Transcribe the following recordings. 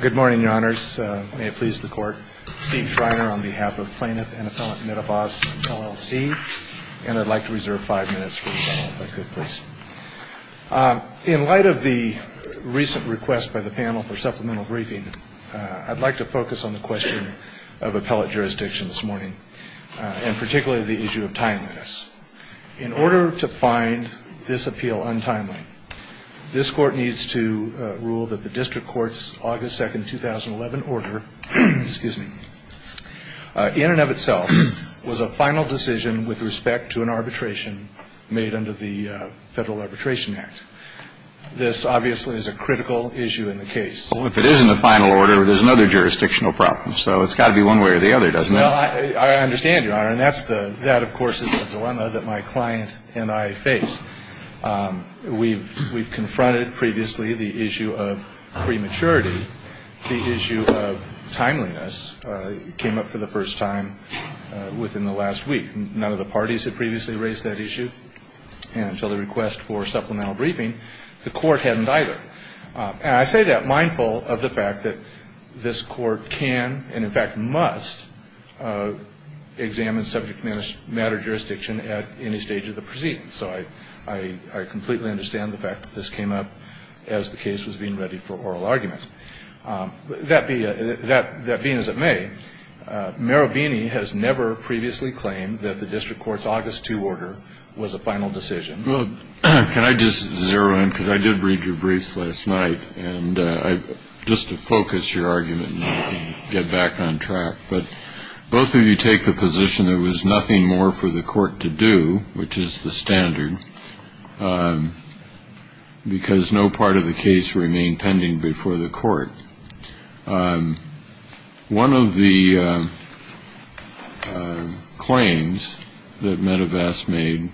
Good morning, your honors. May it please the court. Steve Schreiner on behalf of plaintiff and appellant Marubeni Corporation, LLC. And I'd like to reserve five minutes for the panel, if I could, please. In light of the recent request by the panel for supplemental briefing, I'd like to focus on the question of appellate jurisdiction this morning and particularly the issue of timeliness. In order to find this appeal untimely, this court needs to rule that the district court's August 2nd, 2011 order, excuse me, in and of itself was a final decision with respect to an arbitration made under the Federal Arbitration Act. This obviously is a critical issue in the case. Well, if it isn't a final order, there's another jurisdictional problem. So it's got to be one way or the other, doesn't it? Well, I understand, your honor, and that, of course, is a dilemma that my client and I face. We've confronted previously the issue of prematurity. The issue of timeliness came up for the first time within the last week. None of the parties had previously raised that issue until the request for supplemental briefing. The court hadn't either. And I say that mindful of the fact that this court can and, in fact, must examine subject matter jurisdiction at any stage of the proceedings. So I completely understand the fact that this came up as the case was being readied for oral argument. That being as it may, Marabini has never previously claimed that the district court's August 2 order was a final decision. Well, can I just zero in? Because I did read your briefs last night. And just to focus your argument and get back on track. But both of you take the position there was nothing more for the court to do, which is the standard, because no part of the case remained pending before the court. One of the claims that Medivac made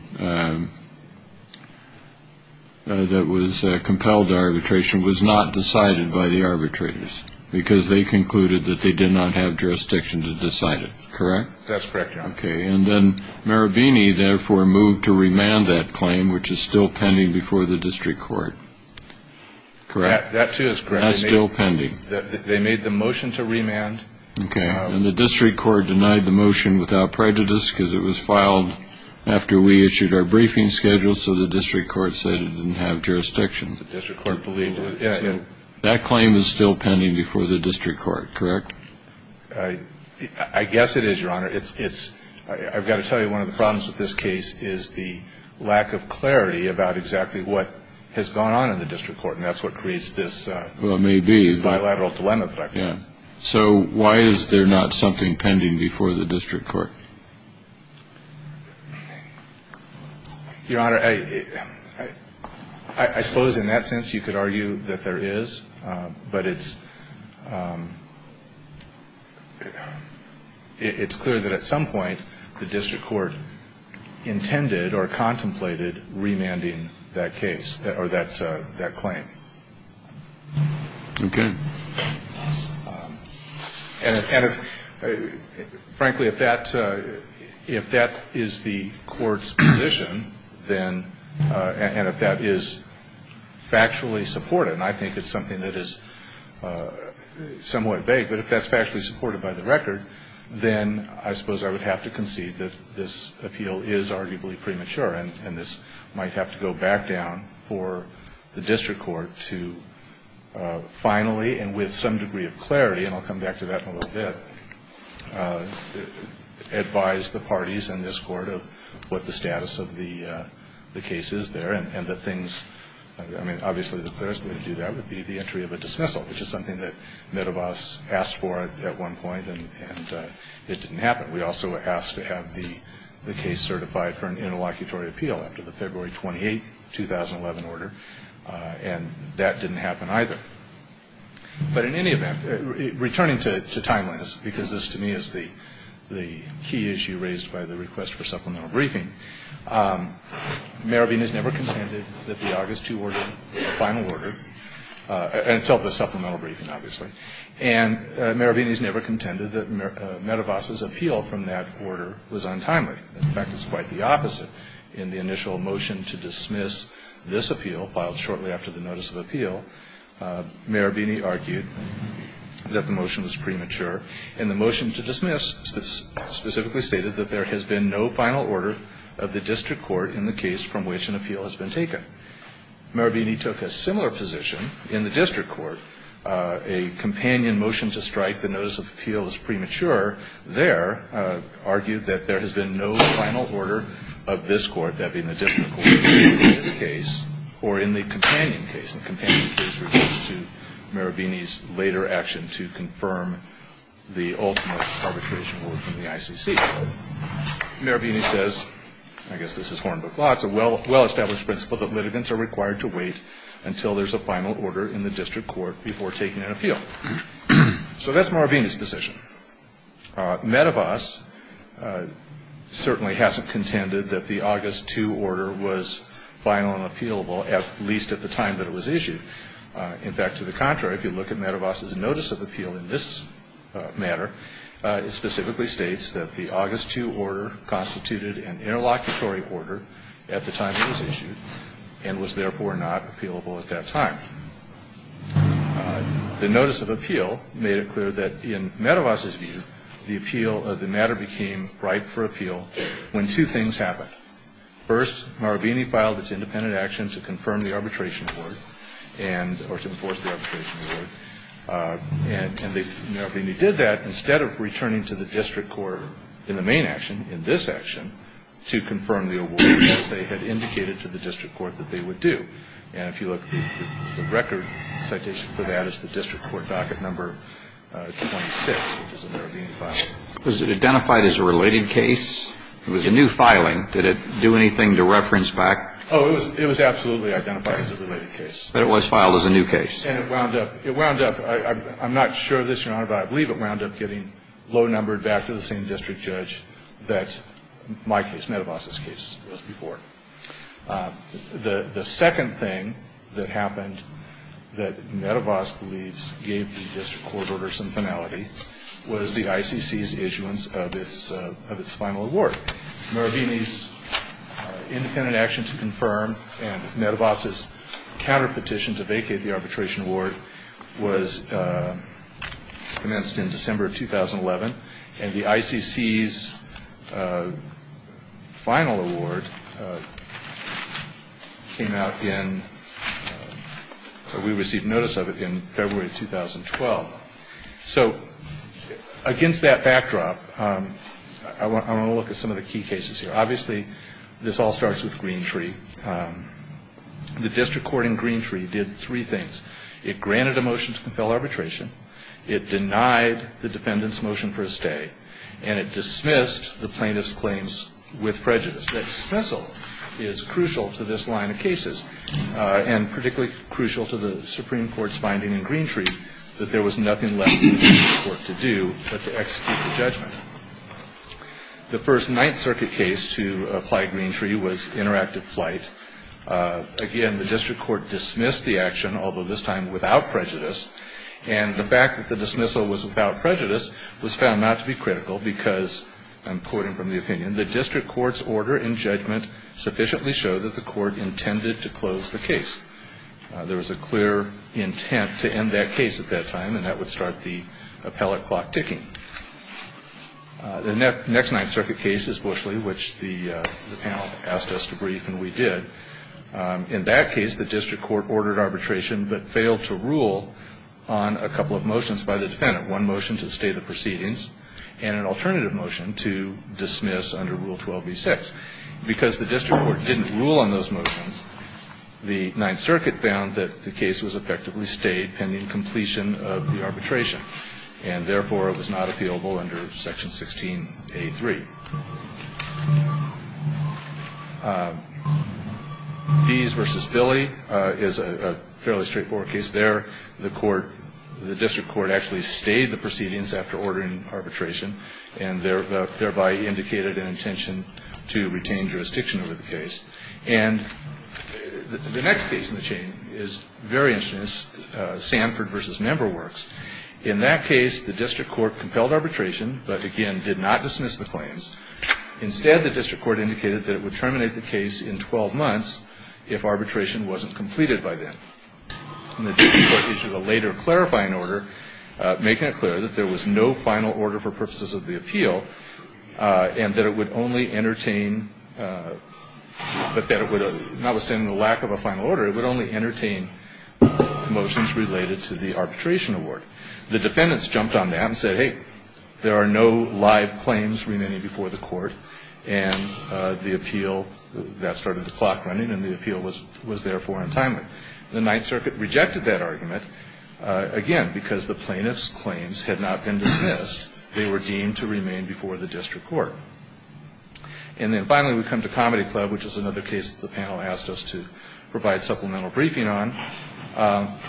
that was compelled arbitration was not decided by the arbitrators because they concluded that they did not have jurisdiction to decide it. Correct. That's correct. OK. And then Marabini therefore moved to remand that claim, which is still pending before the district court. Correct. That, too, is correct. That's still pending. They made the motion to remand. OK. And the district court denied the motion without prejudice because it was filed after we issued our briefing schedule, so the district court said it didn't have jurisdiction. The district court believed it. So that claim is still pending before the district court, correct? I guess it is, Your Honor. I've got to tell you one of the problems with this case is the lack of clarity about exactly what has gone on in the district court, and that's what creates this bilateral dilemma. So why is there not something pending before the district court? Your Honor, I suppose in that sense you could argue that there is, but it's clear that at some point the district court intended or contemplated remanding that case or that claim. OK. And frankly, if that is the court's position, then, and if that is factually supported, and I think it's something that is somewhat vague, but if that's factually supported by the record, then I suppose I would have to concede that this appeal is arguably premature, and this might have to go back down for the district court to finally and with some degree of clarity, and I'll come back to that in a little bit, advise the parties in this court of what the status of the case is there and the things, I mean, obviously the clearest way to do that would be the entry of a dismissal, which is something that Medevos asked for at one point, and it didn't happen. We also asked to have the case certified for an interlocutory appeal after the February 28, 2011 order, and that didn't happen either. But in any event, returning to timeliness, because this to me is the key issue raised by the request for supplemental briefing, Marabini has never contended that the August 2 final order, and it's of the supplemental briefing, obviously, and Marabini has never contended that Medevos' appeal from that order was untimely. In fact, it's quite the opposite. In the initial motion to dismiss this appeal, filed shortly after the notice of appeal, and the motion to dismiss specifically stated that there has been no final order of the district court in the case from which an appeal has been taken. Marabini took a similar position in the district court. A companion motion to strike the notice of appeal as premature there argued that there has been no final order of this court, that being the district court in this case, or in the companion case. The companion case referred to Marabini's later action to confirm the ultimate arbitration from the ICC. Marabini says, I guess this is Hornbook law, it's a well-established principle that litigants are required to wait until there's a final order in the district court before taking an appeal. So that's Marabini's position. Medevos certainly hasn't contended that the August 2 order was final and appealable, at least at the time that it was issued. In fact, to the contrary, if you look at Medevos' notice of appeal in this matter, it specifically states that the August 2 order constituted an interlocutory order at the time it was issued, and was therefore not appealable at that time. The notice of appeal made it clear that, in Medevos' view, the appeal of the matter became ripe for appeal when two things happened. First, Marabini filed its independent action to confirm the arbitration award, or to enforce the arbitration award, and Marabini did that instead of returning to the district court in the main action, in this action, to confirm the award as they had indicated to the district court that they would do. And if you look, the record citation for that is the district court docket number 26, which is a Marabini file. Was it identified as a related case? It was a new filing. Did it do anything to reference back? Oh, it was absolutely identified as a related case. But it was filed as a new case. And it wound up – it wound up – I'm not sure of this, Your Honor, but I believe it wound up getting low-numbered back to the same district judge that my case, Medevos' case, was before. The second thing that happened that Medevos believes gave the district court order some finality was the ICC's issuance of its final award. Marabini's independent action to confirm and Medevos' counterpetition to vacate the arbitration award was commenced in December of 2011, and the ICC's final award came out in – we received notice of it in February of 2012. So against that backdrop, I want to look at some of the key cases here. Obviously, this all starts with Greentree. The district court in Greentree did three things. It granted a motion to compel arbitration. It denied the defendant's motion for a stay. And it dismissed the plaintiff's claims with prejudice. That dismissal is crucial to this line of cases, and particularly crucial to the Supreme Court's finding in Greentree that there was nothing left for the district court to do but to execute the judgment. The first Ninth Circuit case to apply Greentree was Interactive Flight. Again, the district court dismissed the action, although this time without prejudice, and the fact that the dismissal was without prejudice was found not to be critical because, I'm quoting from the opinion, the district court's order in judgment sufficiently showed that the court intended to close the case. There was a clear intent to end that case at that time, and that would start the appellate clock ticking. The next Ninth Circuit case is Bushley, which the panel asked us to brief, and we did. In that case, the district court ordered arbitration but failed to rule on a couple of motions by the defendant, one motion to stay the proceedings and an alternative motion to dismiss under Rule 12b-6. Because the district court didn't rule on those motions, the Ninth Circuit found that the case was effectively stayed pending completion of the arbitration, and therefore it was not appealable under Section 16a-3. Bees v. Billy is a fairly straightforward case there. The district court actually stayed the proceedings after ordering arbitration and thereby indicated an intention to retain jurisdiction over the case. And the next case in the chain is very interesting. It's Sanford v. Member Works. In that case, the district court compelled arbitration but, again, did not dismiss the claims. Instead, the district court indicated that it would terminate the case in 12 months if arbitration wasn't completed by then. And the district court issued a later clarifying order, making it clear that there was no final order for purposes of the appeal and that it would only entertain, but that it would, notwithstanding the lack of a final order, it would only entertain motions related to the arbitration award. The defendants jumped on that and said, hey, there are no live claims remaining before the court, and the appeal, that started the clock running, and the appeal was therefore untimely. The Ninth Circuit rejected that argument, again, because the plaintiff's claims had not been dismissed. They were deemed to remain before the district court. And then, finally, we come to Comedy Club, which is another case that the panel asked us to provide supplemental briefing on.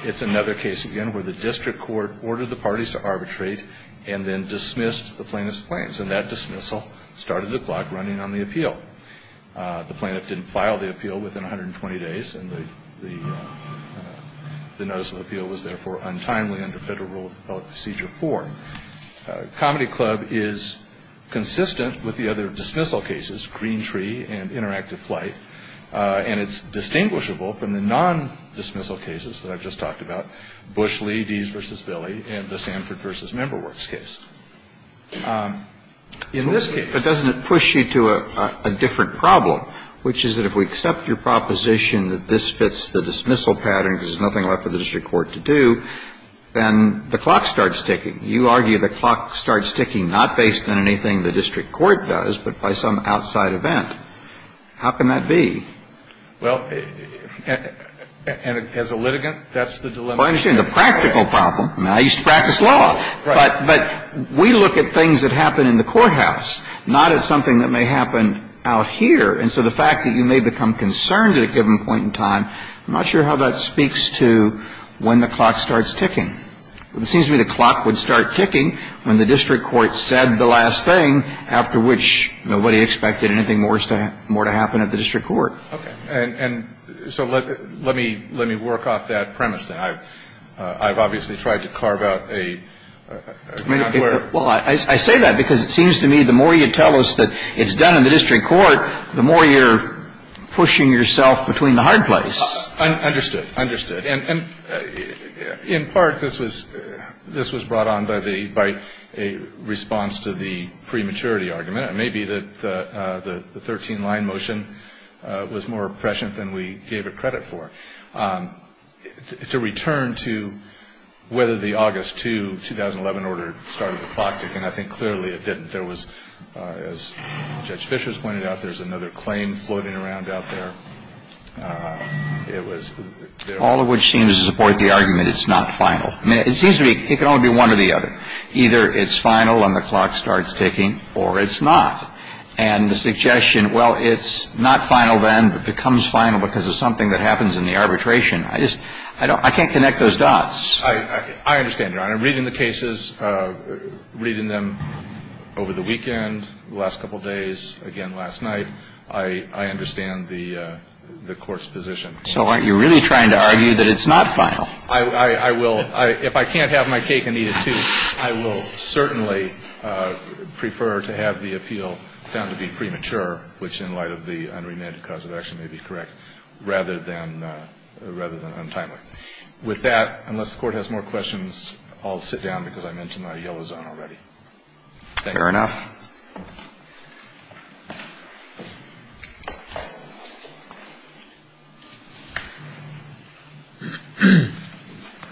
It's another case, again, where the district court ordered the parties to arbitrate and then dismissed the plaintiff's claims, and that dismissal started the clock running on the appeal. The plaintiff didn't file the appeal within 120 days, and the notice of appeal was therefore untimely under Federal Rule of Procedure 4. Comedy Club is consistent with the other dismissal cases, Green Tree and Interactive Flight, and it's distinguishable from the non-dismissal cases that I've just talked about, Bush-Lee, Dees v. Billy, and the Sanford v. Member Works case. In this case ---- But doesn't it push you to a different problem, which is that if we accept your proposition that this fits the dismissal pattern, because there's nothing left for the district court to do, then the clock starts ticking. You argue the clock starts ticking not based on anything the district court does, but by some outside event. How can that be? Well, as a litigant, that's the dilemma. Well, I understand the practical problem. I mean, I used to practice law. Right. But we look at things that happen in the courthouse, not at something that may happen out here. And so the fact that you may become concerned at a given point in time, I'm not sure how that speaks to when the clock starts ticking. It seems to me the clock would start ticking when the district court said the last thing, after which nobody expected anything more to happen at the district court. Okay. And so let me work off that premise that I've obviously tried to carve out a ---- Well, I say that because it seems to me the more you tell us that it's done in the district court, the more you're pushing yourself between the hard places. Understood. Understood. And in part, this was brought on by a response to the prematurity argument. It may be that the 13-line motion was more prescient than we gave it credit for. To return to whether the August 2, 2011 order started the clock ticking, I think clearly it didn't. There was, as Judge Fischer has pointed out, there's another claim floating around out there. All of which seems to support the argument it's not final. I mean, it seems to me it can only be one or the other. Either it's final and the clock starts ticking or it's not. And the suggestion, well, it's not final then but becomes final because of something that happens in the arbitration, I just ---- I can't connect those dots. I understand, Your Honor. I'm reading the cases, reading them over the weekend, the last couple days, again last night. I understand the Court's position. So aren't you really trying to argue that it's not final? I will. If I can't have my cake and eat it too, I will certainly prefer to have the appeal found to be premature, which in light of the unremanded cause of action may be correct, rather than untimely. With that, unless the Court has more questions, I'll sit down because I'm into my yellow zone already. Fair enough.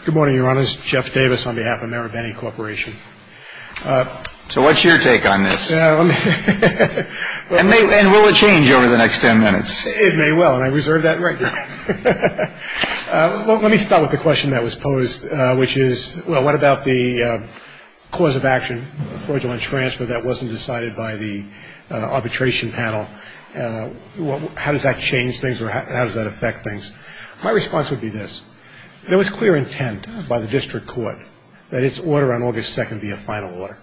Good morning, Your Honors. Jeff Davis on behalf of Marabeni Corporation. So what's your take on this? And will it change over the next ten minutes? It may well. And I reserve that right to you. Let me start with the question that was posed, which is, well, what about the cause of action, fraudulent transfer that wasn't decided by the arbitration panel? How does that change things or how does that affect things? My response would be this. There was clear intent by the district court that its order on August 2nd be a final order.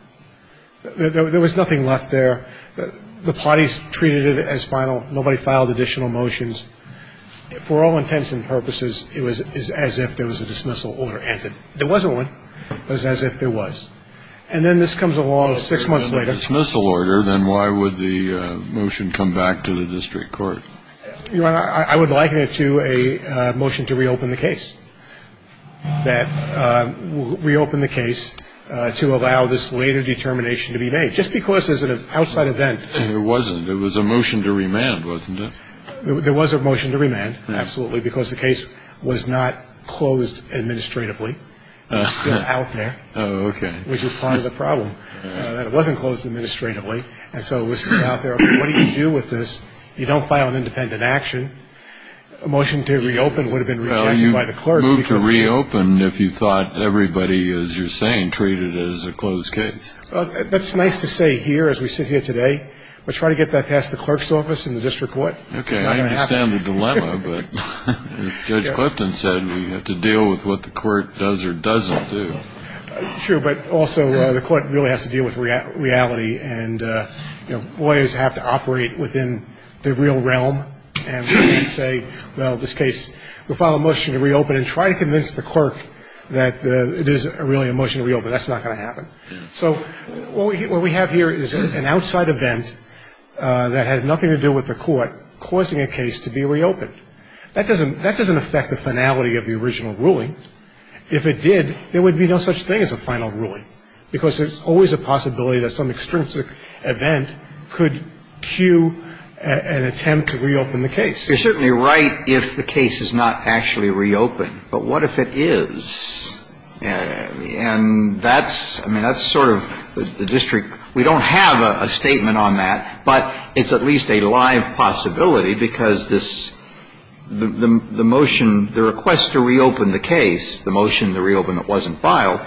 There was nothing left there. The parties treated it as final. Nobody filed additional motions. For all intents and purposes, it was as if there was a dismissal order entered. There wasn't one. It was as if there was. And then this comes along six months later. If there was a dismissal order, then why would the motion come back to the district court? Your Honor, I would liken it to a motion to reopen the case, that reopen the case to allow this later determination to be made. Just because as an outside event. It wasn't. It was a motion to remand, wasn't it? There was a motion to remand, absolutely, because the case was not closed administratively. It was still out there. Oh, okay. Which is part of the problem, that it wasn't closed administratively, and so it was still out there. What do you do with this? You don't file an independent action. A motion to reopen would have been rejected by the clerk. Well, you moved to reopen if you thought everybody, as you're saying, treated it as a closed case. That's nice to say here as we sit here today. Let's try to get that past the clerk's office and the district court. Okay, I understand the dilemma, but as Judge Clipton said, we have to deal with what the court does or doesn't do. Sure, but also the court really has to deal with reality, and lawyers have to operate within the real realm and say, well, in this case, we'll file a motion to reopen and try to convince the clerk that it is really a motion to reopen. That's not going to happen. So what we have here is an outside event that has nothing to do with the court causing a case to be reopened. That doesn't affect the finality of the original ruling. If it did, there would be no such thing as a final ruling, because there's always a possibility that some extrinsic event could cue an attempt to reopen the case. You're certainly right if the case is not actually reopened, but what if it is? And that's, I mean, that's sort of the district. We don't have a statement on that, but it's at least a live possibility, because this, the motion, the request to reopen the case, the motion to reopen that wasn't filed,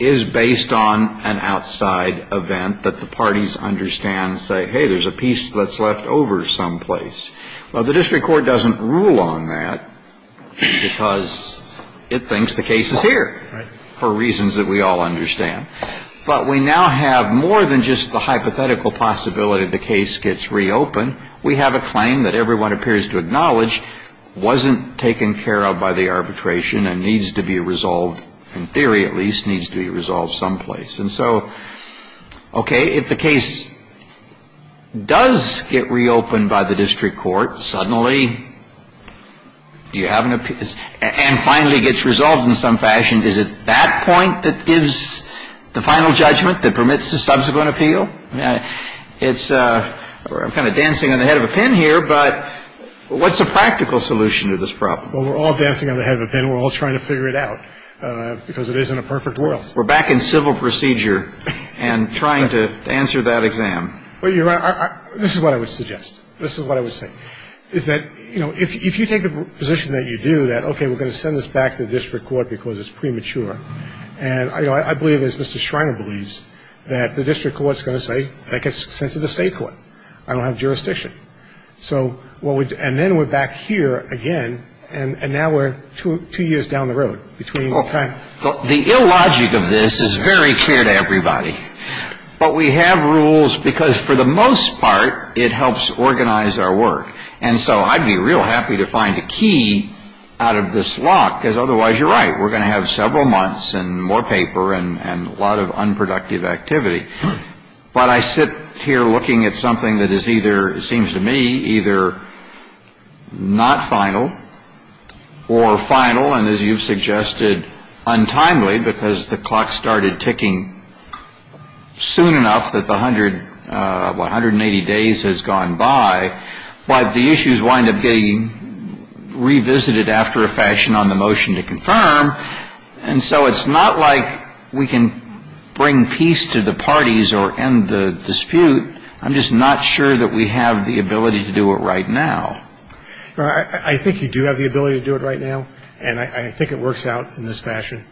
is based on an outside event that the parties understand and say, hey, there's a piece that's left over someplace. Now, the district court doesn't rule on that, because it thinks the case is here, for reasons that we all understand. But we now have more than just the hypothetical possibility the case gets reopened. We have a claim that everyone appears to acknowledge wasn't taken care of by the arbitration and needs to be resolved, in theory at least, needs to be resolved someplace. And so, okay, if the case does get reopened by the district court, suddenly, do you have an appeal, and finally gets resolved in some fashion, is it that point that gives the final judgment that permits the subsequent appeal? It's, I'm kind of dancing on the head of a pin here, but what's the practical solution to this problem? Well, we're all dancing on the head of a pin. We're all trying to figure it out, because it isn't a perfect world. We're back in civil procedure and trying to answer that exam. Well, Your Honor, this is what I would suggest. This is what I would say, is that, you know, if you take the position that you do, that, okay, we're going to send this back to the district court because it's premature. And, you know, I believe, as Mr. Shriner believes, that the district court is going to say, that gets sent to the state court. I don't have jurisdiction. So, and then we're back here again, and now we're two years down the road between the time. The illogic of this is very clear to everybody. But we have rules because, for the most part, it helps organize our work. And so I'd be real happy to find a key out of this lock, because otherwise you're right. We're going to have several months and more paper and a lot of unproductive activity. But I sit here looking at something that is either, it seems to me, either not final or final. And I'm not sure that we have the ability to do it right now. It's going to be fairly simple. And as you've suggested, untimely, because the clock started ticking soon enough that the hundred – 180 days has gone by. But the issues wind up getting revisited after a fashion on the motion to confirm. And so it's not like we can bring peace to the parties or end the dispute. I'm just not sure that we have the ability to do it right now. I think you do have the ability to do it right now. And I think it works out in this fashion.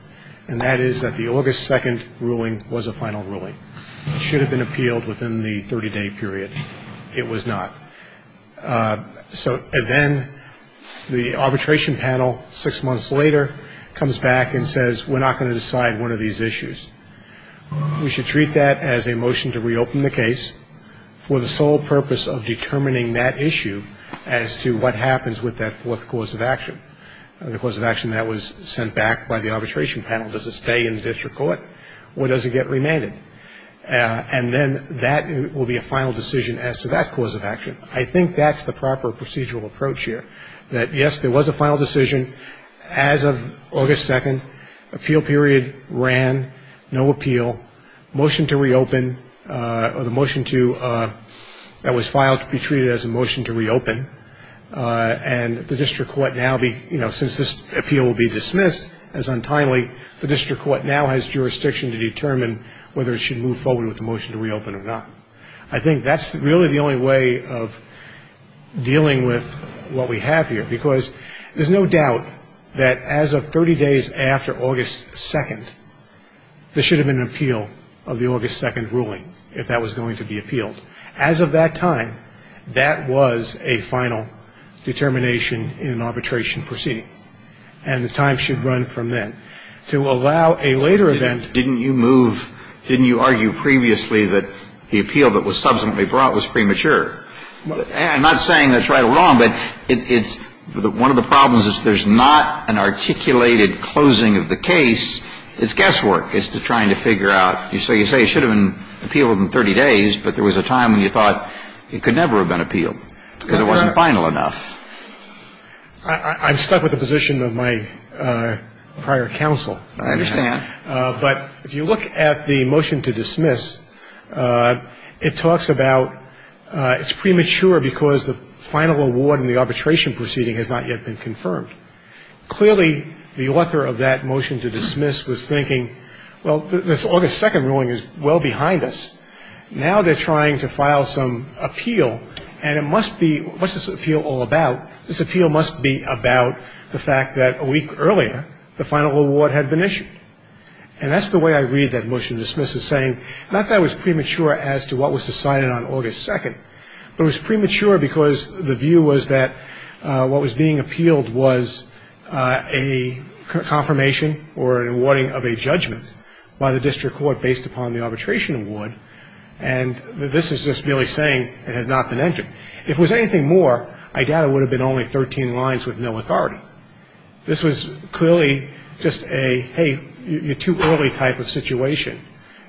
And that is that the August 2nd ruling was a final ruling. It should have been appealed within the 30-day period. It was not. So then the arbitration panel, six months later, comes back and says, we're not going to decide one of these issues. We should treat that as a motion to reopen the case for the sole purpose of determining that issue as to what happens with that fourth cause of action, the cause of action that was sent back by the arbitration panel. Does it stay in the district court or does it get remanded? And then that will be a final decision as to that cause of action. I think that's the proper procedural approach here, that, yes, there was a final decision. As of August 2nd, appeal period ran, no appeal, motion to reopen, or the motion that was filed to be treated as a motion to reopen. And the district court now, since this appeal will be dismissed as untimely, the district court now has jurisdiction to determine whether it should move forward with the motion to reopen or not. I think that's really the only way of dealing with what we have here, because there's no doubt that as of 30 days after August 2nd, there should have been an appeal of the August 2nd ruling, if that was going to be appealed. As of that time, that was a final determination in an arbitration proceeding, and the time should run from then. To allow a later event. Didn't you move, didn't you argue previously that the appeal that was subsequently brought was premature? I'm not saying that's right or wrong, but it's one of the problems is there's not an articulated closing of the case. It's guesswork. It's trying to figure out. So you say it should have been appealed within 30 days, but there was a time when you thought it could never have been appealed because it wasn't final enough. I'm stuck with the position of my prior counsel. I understand. But if you look at the motion to dismiss, it talks about it's premature because the final award in the arbitration proceeding has not yet been confirmed. Clearly, the author of that motion to dismiss was thinking, well, this August 2nd ruling is well behind us. Now they're trying to file some appeal, and it must be, what's this appeal all about? This appeal must be about the fact that a week earlier the final award had been issued. And that's the way I read that motion to dismiss, is saying not that it was premature as to what was decided on August 2nd, but it was premature because the view was that what was being appealed was a confirmation or an awarding of a judgment by the district court based upon the arbitration award, and this is just merely saying it has not been entered. If it was anything more, I doubt it would have been only 13 lines with no authority. This was clearly just a, hey, you're too early type of situation.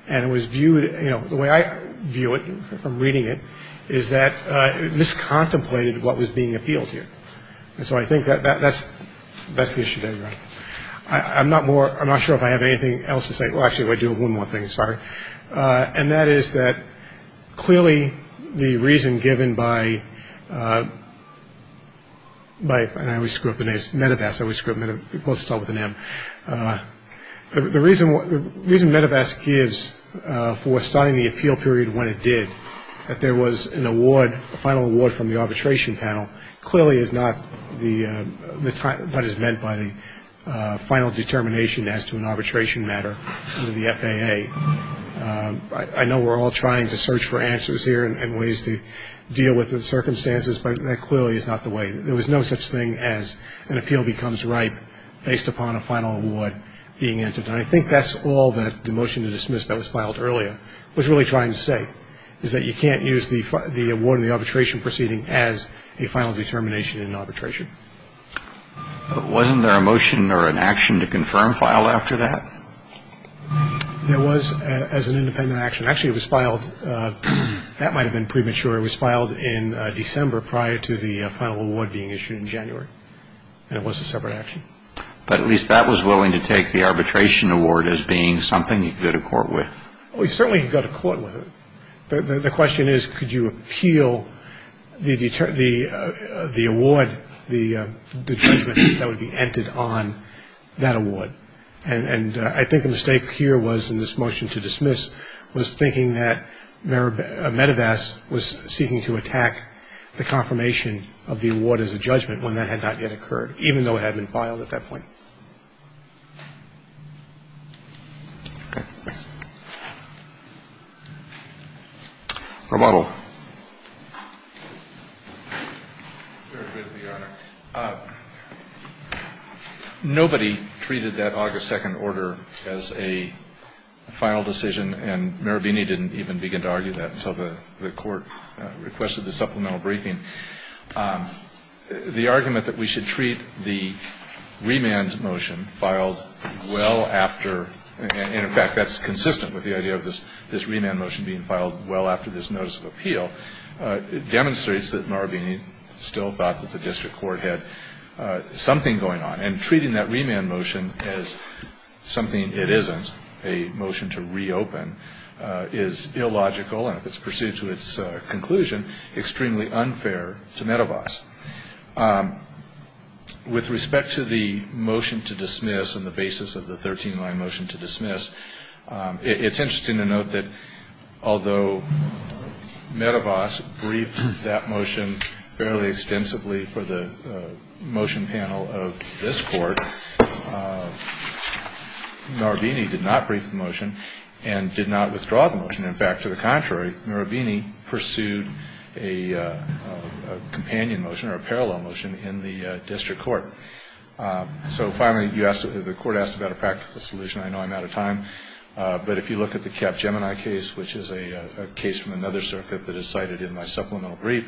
And it was viewed, you know, the way I view it from reading it is that this contemplated what was being appealed here. And so I think that's the issue there. I'm not more, I'm not sure if I have anything else to say. Well, actually, if I do, one more thing, sorry. And that is that clearly the reason given by, and I always screw up the names, Medivac, I always screw up Medivac, both start with an M. The reason Medivac gives for starting the appeal period when it did, that there was an award, a final award from the arbitration panel, clearly is not what is meant by the final determination as to an arbitration matter under the FAA. I know we're all trying to search for answers here and ways to deal with the circumstances, but that clearly is not the way. There was no such thing as an appeal becomes ripe based upon a final award being entered. And I think that's all that the motion to dismiss that was filed earlier was really trying to say, is that you can't use the award in the arbitration proceeding as a final determination in arbitration. Wasn't there a motion or an action to confirm file after that? There was as an independent action. Actually, it was filed. That might have been premature. It was filed in December prior to the final award being issued in January. And it was a separate action. But at least that was willing to take the arbitration award as being something you could go to court with. We certainly could go to court with it. The question is, could you appeal the award, the judgment that would be entered on that award? And I think the mistake here was in this motion to dismiss was thinking that Medevas was seeking to attack the confirmation of the award as a judgment when that had not yet occurred, even though it had been filed at that point. Okay. Remodel. It's very good of you, Your Honor. Nobody treated that August 2nd order as a final decision. And Marabini didn't even begin to argue that until the court requested the supplemental briefing. The argument that we should treat the remand motion filed well after, and, in fact, that's consistent with the idea of this remand motion being filed well after this notice of appeal, demonstrates that Marabini still thought that the district court had something going on. And treating that remand motion as something it isn't, a motion to reopen, is illogical, and if it's pursued to its conclusion, extremely unfair to Medevas. With respect to the motion to dismiss and the basis of the 13-line motion to dismiss, it's interesting to note that although Medevas briefed that motion fairly extensively for the motion panel of this court, Marabini did not brief the motion and did not withdraw the motion. In fact, to the contrary, Marabini pursued a companion motion or a parallel motion in the district court. So finally, the court asked about a practical solution. I know I'm out of time, but if you look at the Capgemini case, which is a case from another circuit that is cited in my supplemental brief,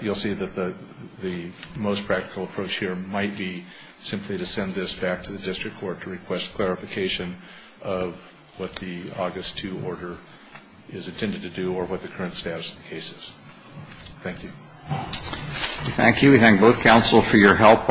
you'll see that the most practical approach here might be simply to send this back to the district court to request clarification of what the August 2 order is intended to do or what the current status of the case is. Thank you. Thank you. We thank both counsel for your help.